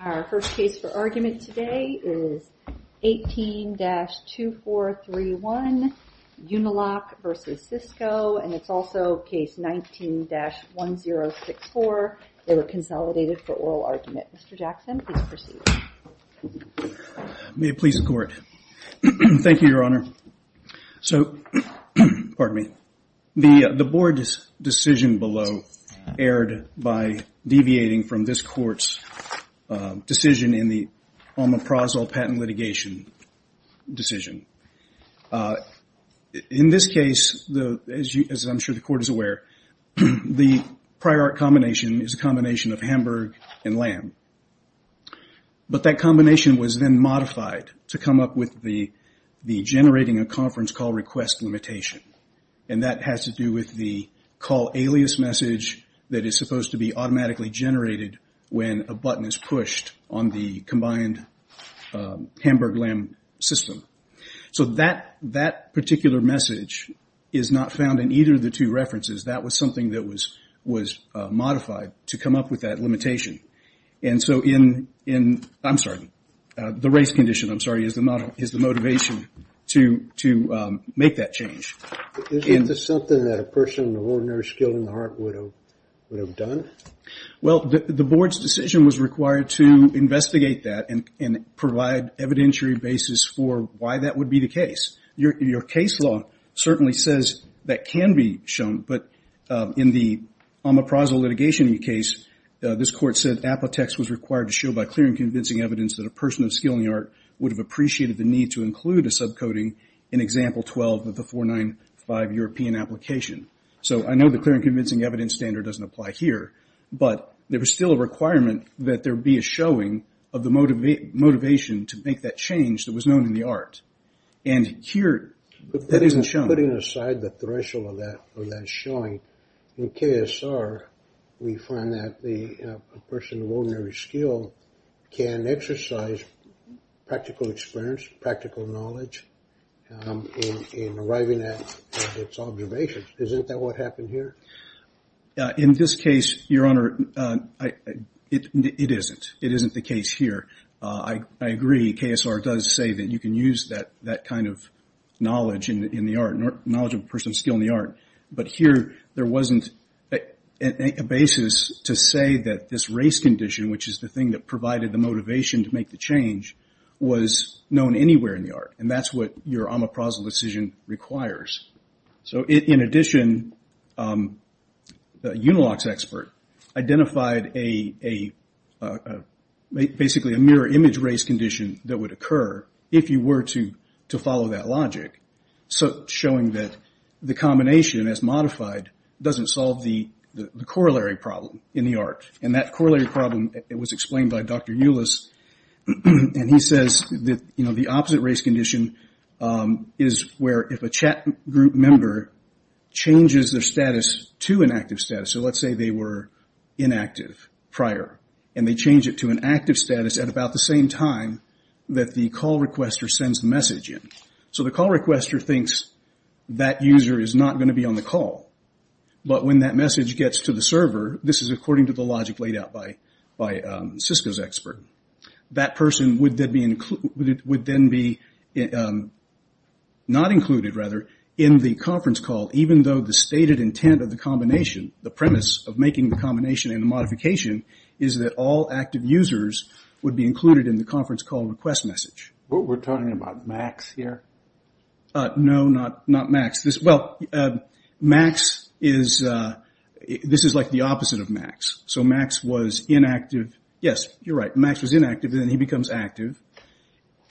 Our first case for argument today is 18-2431 Uniloc v. Cisco, and it's also case 19-1064. They were consolidated for oral argument. Mr. Jackson, please proceed. May it please the Court. Thank you, Your Honor. So, the Board's decision below erred by deviating from this Court's decision in the alma prazole patent litigation decision. In this case, as I'm sure the Court is aware, the prior art combination is a combination of Hamburg and Lamb. But that combination was then modified to come up with the generating a conference call request limitation, and that has to do with the call alias message that is supposed to be automatically generated when a button is pushed on the combined Hamburg-Lamb system. So, that particular message is not found in either of the two references. That was something that was modified to come up with that limitation. And so in – I'm sorry, the race condition, I'm sorry, is the motivation to make that change. Isn't this something that a person of ordinary skill and heart would have done? Well, the Board's decision was required to investigate that and provide evidentiary basis for why that would be the case. Your case law certainly says that can be shown, but in the alma prazole litigation case, this Court said Apotex was required to show by clear and convincing evidence that a person of skill and heart would have appreciated the need to include a subcoding in Example 12 of the 495 European application. So, I know the clear and convincing evidence standard doesn't apply here, but there was still a requirement that there be a showing of the motivation to make that change that was known in the art. And here, that isn't shown. Putting aside the threshold of that showing, in KSR, we find that a person of ordinary skill can exercise practical experience, practical knowledge in arriving at its observations. Isn't that what happened here? In this case, Your Honor, it isn't. It isn't the case here. I agree. KSR does say that you can use that kind of knowledge in the art, knowledge of a person of skill in the art. But here, there wasn't a basis to say that this race condition, which is the thing that provided the motivation to make the change, was known anywhere in the art. And that's what your alma prazole decision requires. In addition, a Unilox expert identified basically a mirror image race condition that would occur if you were to follow that logic, showing that the combination, as modified, doesn't solve the corollary problem in the art. And that corollary problem was explained by Dr. Euless. And he says that the opposite race condition is where if a chat group member changes their status to an active status, so let's say they were inactive prior, and they change it to an active status at about the same time that the call requester sends the message in. So the call requester thinks that user is not going to be on the call. But when that message gets to the server, this is according to the logic laid out by Cisco's expert, that person would then be not included, rather, in the conference call, even though the stated intent of the combination, the premise of making the combination and the modification, is that all active users would be included in the conference call request message. We're talking about Max here? No, not Max. Well, Max is, this is like the opposite of Max. So Max was inactive. Yes, you're right. Max was inactive, and then he becomes active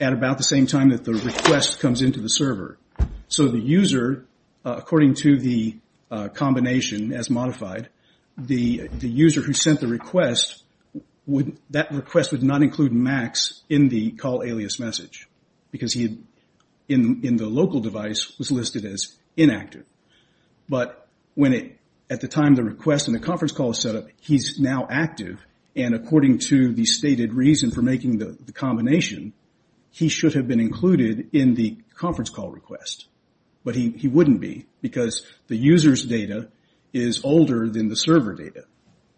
at about the same time that the request comes into the server. So the user, according to the combination as modified, the user who sent the request, that request would not include Max in the call alias message, because he, in the local device, was listed as inactive. But at the time the request and the conference call is set up, he's now active, and according to the stated reason for making the combination, he should have been included in the conference call request. But he wouldn't be, because the user's data is older than the server data.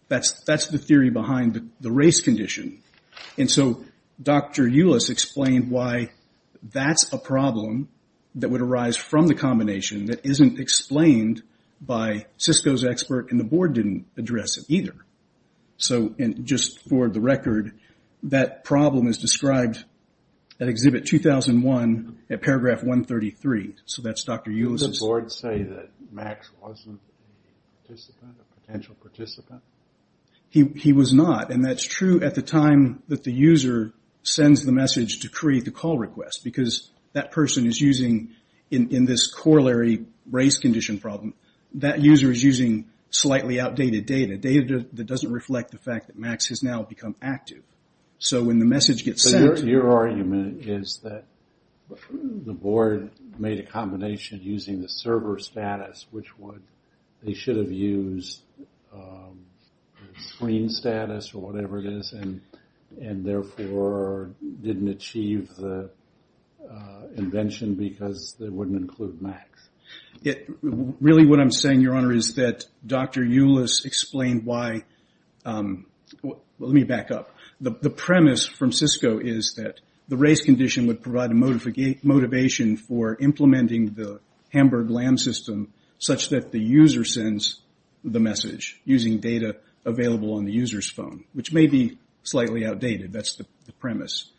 That's the theory behind the race condition. And so Dr. Euless explained why that's a problem that would arise from the combination that isn't explained by Cisco's expert, and the board didn't address it either. So just for the record, that problem is described at Exhibit 2001 at Paragraph 133. So that's Dr. Euless. Did the board say that Max wasn't a participant, a potential participant? He was not, and that's true at the time that the user sends the message to create the call request, because that person is using, in this corollary race condition problem, that user is using slightly outdated data, data that doesn't reflect the fact that Max has now become active. So when the message gets sent... So your argument is that the board made a combination using the server status, which would, they should have used screen status or whatever it is, and therefore didn't achieve the invention because they wouldn't include Max. Really what I'm saying, Your Honor, is that Dr. Euless explained why, let me back up, the premise from Cisco is that the race condition would provide a motivation for implementing the Hamburg LAM system such that the user sends the message using data available on the user's phone, which may be slightly outdated. That's the premise.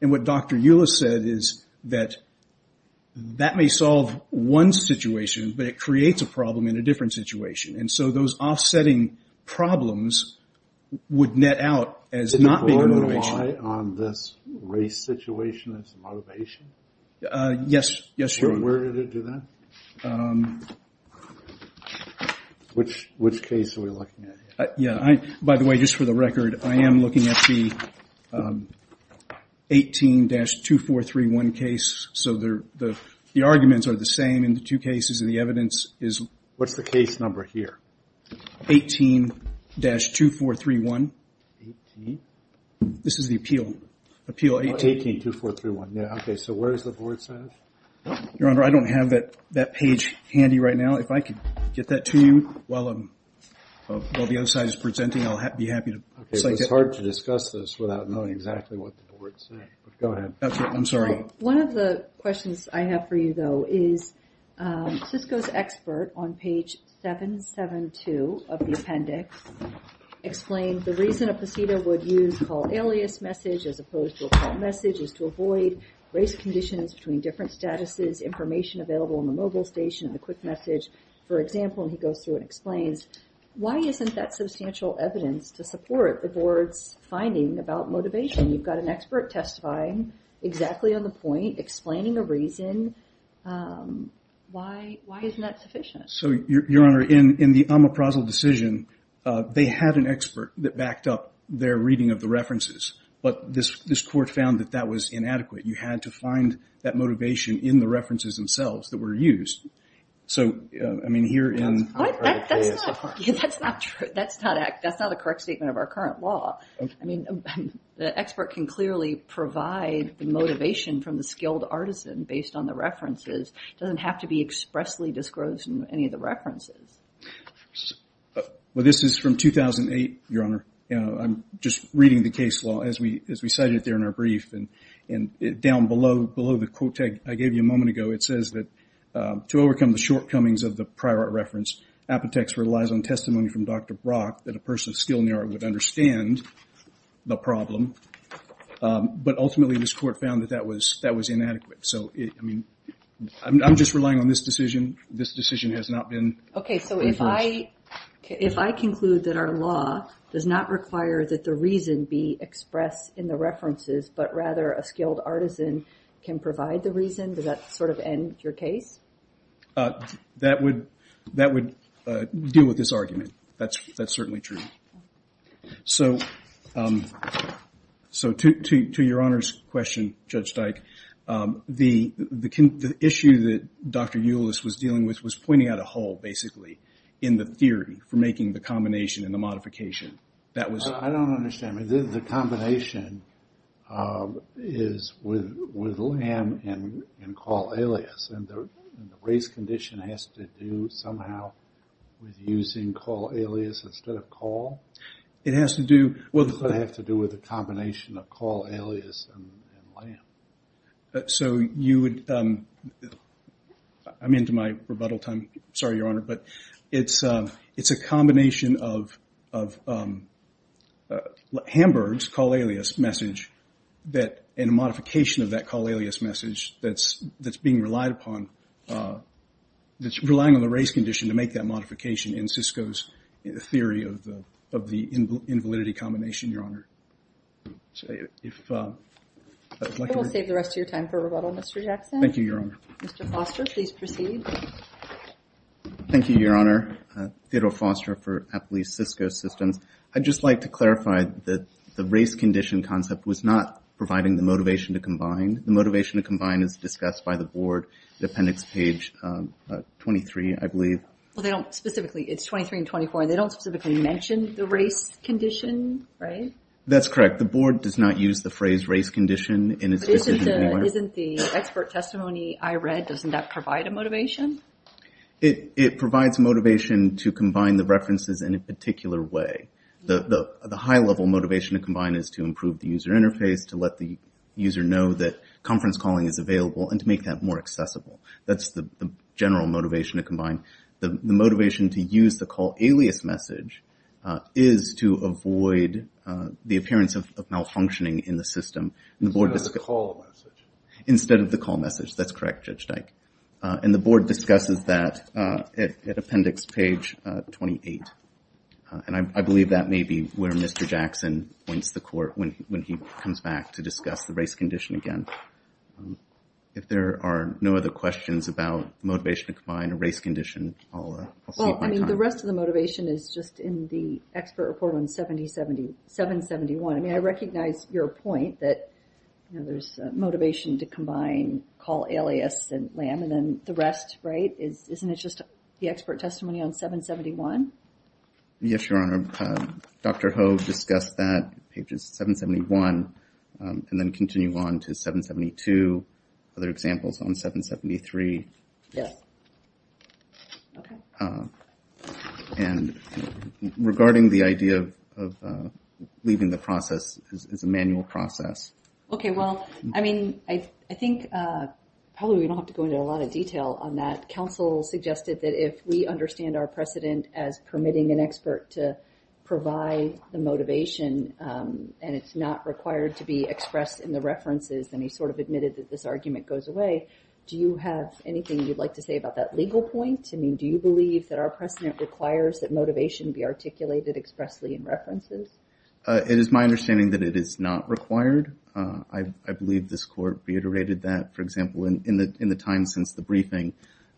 And what Dr. Euless said is that that may solve one situation, but it creates a problem in a different situation. And so those offsetting problems would net out as not being a motivation. Did the board rely on this race situation as a motivation? Yes, Your Honor. Where did it do that? Which case are we looking at here? By the way, just for the record, I am looking at the 18-2431 case. So the arguments are the same in the two cases, and the evidence is... What's the case number here? 18-2431. 18? This is the appeal. 18-2431. Yeah, okay. So where does the board say? Your Honor, I don't have that page handy right now. If I could get that to you while the other side is presenting, I'll be happy to cite it. It's hard to discuss this without knowing exactly what the board said. Go ahead. I'm sorry. One of the questions I have for you, though, is Cisco's expert, on page 772 of the appendix, explained the reason a procedure would use a call alias message as opposed to a call message is to avoid race conditions between different statuses, information available on the mobile station, and the quick message. For example, and he goes through and explains, why isn't that substantial evidence to support the board's finding about motivation? You've got an expert testifying exactly on the point, explaining a reason. Why isn't that sufficient? So, Your Honor, in the Amaprazzo decision, they had an expert that backed up their reading of the references, but this court found that that was inadequate. You had to find that motivation in the references themselves that were used. So, I mean, here in the case. That's not true. That's not the correct statement of our current law. I mean, the expert can clearly provide the motivation from the skilled artisan based on the references. It doesn't have to be expressly disclosed in any of the references. Well, this is from 2008, Your Honor. I'm just reading the case law as we cited it there in our brief, and down below the quote I gave you a moment ago, it says that to overcome the shortcomings of the prior art reference, Apotex relies on testimony from Dr. Brock that a person of skill in the art would understand the problem, but ultimately this court found that that was inadequate. So, I mean, I'm just relying on this decision. This decision has not been reversed. Okay, so if I conclude that our law does not require that the reason be expressed in the references, but rather a skilled artisan can provide the reason, does that sort of end your case? That would deal with this argument. That's certainly true. So, to your Honor's question, Judge Dyke, the issue that Dr. Euless was dealing with was pointing out a hole, basically, in the theory for making the combination and the modification. I don't understand. The combination is with lamb and call alias, and the race condition has to do somehow with using call alias instead of call? It has to do with a combination of call alias and lamb. So you would – I'm into my rebuttal time. Sorry, Your Honor, but it's a combination of Hamburg's call alias message and a modification of that call alias message that's being relied upon, that's relying on the race condition to make that modification in Cisco's theory of the invalidity combination, Your Honor. We'll save the rest of your time for rebuttal, Mr. Jackson. Thank you, Your Honor. Mr. Foster, please proceed. Thank you, Your Honor. Theodore Foster for Apple East Cisco Systems. I'd just like to clarify that the race condition concept was not providing the motivation to combine. The motivation to combine is discussed by the board, the appendix page 23, I believe. Well, they don't specifically – it's 23 and 24. They don't specifically mention the race condition, right? That's correct. The board does not use the phrase race condition in its decision anymore. It provides motivation to combine the references in a particular way. The high-level motivation to combine is to improve the user interface, to let the user know that conference calling is available and to make that more accessible. That's the general motivation to combine. The motivation to use the call alias message is to avoid the appearance of malfunctioning in the system. Instead of the call message. Instead of the call message. That's correct, Judge Dyke. And the board discusses that at appendix page 28. And I believe that may be where Mr. Jackson points the court when he comes back to discuss the race condition again. If there are no other questions about motivation to combine or race condition, I'll see you at my time. Well, I mean, the rest of the motivation is just in the expert report on 770 – 771. I mean, I recognize your point that, you know, there's motivation to combine call alias and LAM and then the rest, right? Isn't it just the expert testimony on 771? Yes, Your Honor. Dr. Ho discussed that, pages 771, and then continued on to 772, other examples on 773. Yes. Okay. And regarding the idea of leaving the process as a manual process. Okay, well, I mean, I think probably we don't have to go into a lot of detail on that. Counsel suggested that if we understand our precedent as permitting an expert to provide the motivation and it's not required to be expressed in the references, then he sort of admitted that this argument goes away. Do you have anything you'd like to say about that legal point? I mean, do you believe that our precedent requires that motivation be articulated expressly in references? It is my understanding that it is not required. I believe this court reiterated that, for example, in the time since the briefing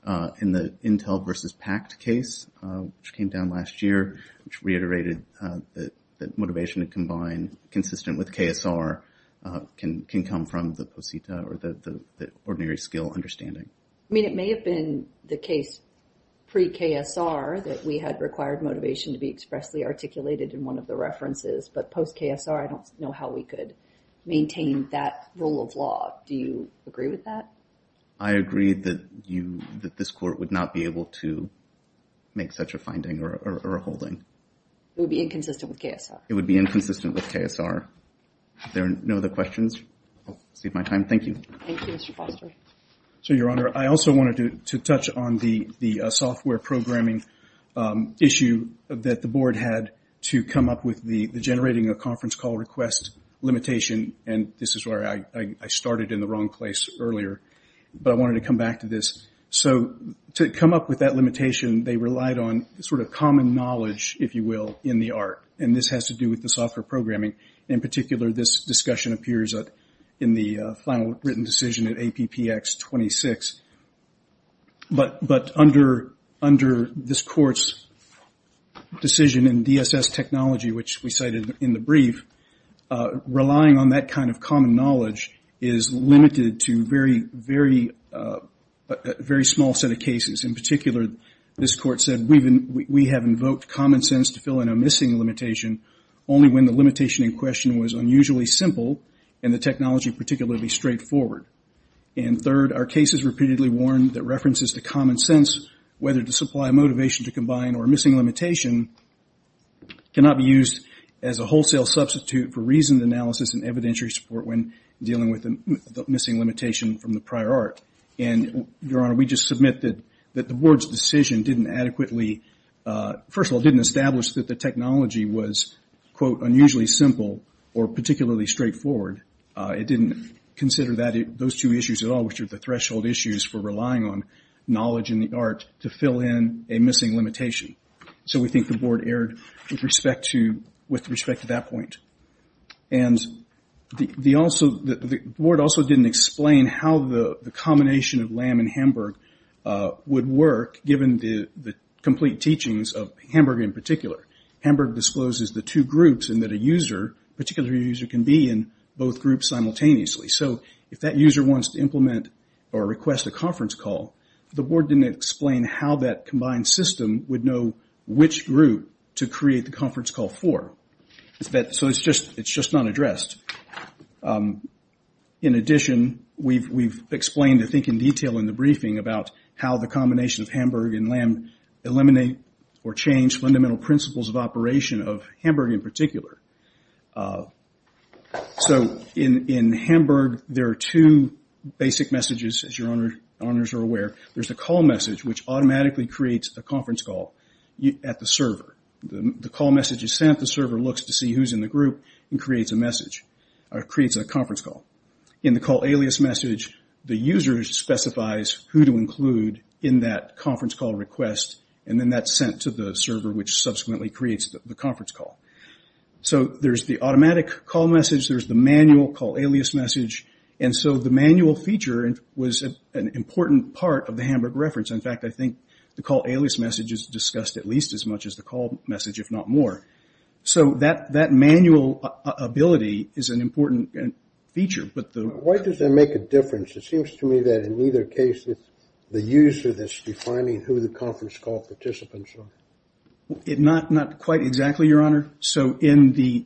in the Intel versus PACT case, which came down last year, which reiterated that motivation to combine consistent with KSR can come from the posita or the ordinary skill understanding. I mean, it may have been the case pre-KSR that we had required motivation to be expressly articulated in one of the references, but post-KSR, I don't know how we could maintain that rule of law. Do you agree with that? I agree that this court would not be able to make such a finding or a holding. It would be inconsistent with KSR. It would be inconsistent with KSR. If there are no other questions, I'll save my time. Thank you. Thank you, Mr. Foster. So, Your Honor, I also wanted to touch on the software programming issue that the Board had to come up with the generating a conference call request limitation, and this is where I started in the wrong place earlier, but I wanted to come back to this. So to come up with that limitation, they relied on sort of common knowledge, if you will, in the art, and this has to do with the software programming. In particular, this discussion appears in the final written decision at APPX 26. But under this Court's decision in DSS technology, which we cited in the brief, relying on that kind of common knowledge is limited to a very small set of cases. In particular, this Court said we have invoked common sense to fill in a missing limitation only when the limitation in question was unusually simple and the technology particularly straightforward. And third, our cases repeatedly warn that references to common sense, whether to supply motivation to combine or missing limitation, cannot be used as a wholesale substitute for reasoned analysis and evidentiary support when dealing with a missing limitation from the prior art. And, Your Honor, we just submit that the Board's decision didn't adequately, first of all, didn't establish that the technology was, quote, unusually simple or particularly straightforward. It didn't consider those two issues at all, which are the threshold issues for relying on knowledge in the art, to fill in a missing limitation. So we think the Board erred with respect to that point. And the Board also didn't explain how the combination of LAM and Hamburg would work, given the complete teachings of Hamburg in particular. Hamburg discloses the two groups in that a user, a particular user can be in both groups simultaneously. So if that user wants to implement or request a conference call, the Board didn't explain how that combined system would know which group to create the conference call for. So it's just not addressed. In addition, we've explained, I think in detail in the briefing, about how the combination of Hamburg and LAM eliminate or change fundamental principles of operation of Hamburg in particular. So in Hamburg, there are two basic messages, as your honors are aware. There's the call message, which automatically creates a conference call at the server. The call message is sent. The server looks to see who's in the group and creates a conference call. In the call alias message, the user specifies who to include in that conference call request, and then that's sent to the server, which subsequently creates the conference call. So there's the automatic call message. There's the manual call alias message. And so the manual feature was an important part of the Hamburg reference. In fact, I think the call alias message is discussed at least as much as the call message, if not more. So that manual ability is an important feature. Why does that make a difference? It seems to me that in either case, it's the user that's defining who the conference call participants are. Not quite exactly, your honor. So in the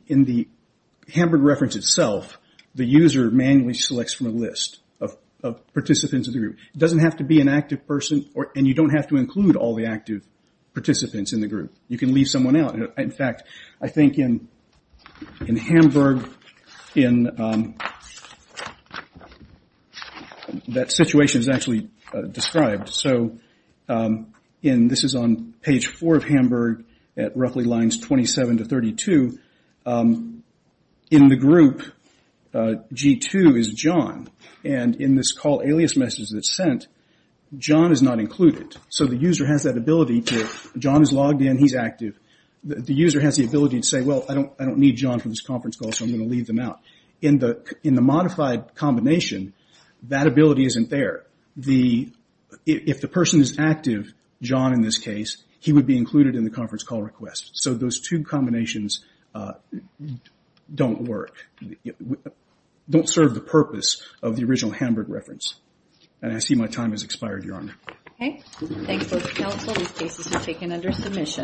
Hamburg reference itself, the user manually selects from a list of participants of the group. It doesn't have to be an active person, and you don't have to include all the active participants in the group. You can leave someone out. In fact, I think in Hamburg, that situation is actually described. So this is on page four of Hamburg at roughly lines 27 to 32. In the group, G2 is John. And in this call alias message that's sent, John is not included. So the user has that ability to, John is logged in, he's active. The user has the ability to say, well, I don't need John for this conference call, so I'm going to leave them out. In the modified combination, that ability isn't there. If the person is active, John in this case, he would be included in the conference call request. So those two combinations don't work, don't serve the purpose of the original Hamburg reference. And I see my time has expired, your honor. Okay. Thanks, both counsel. These cases are taken under submission.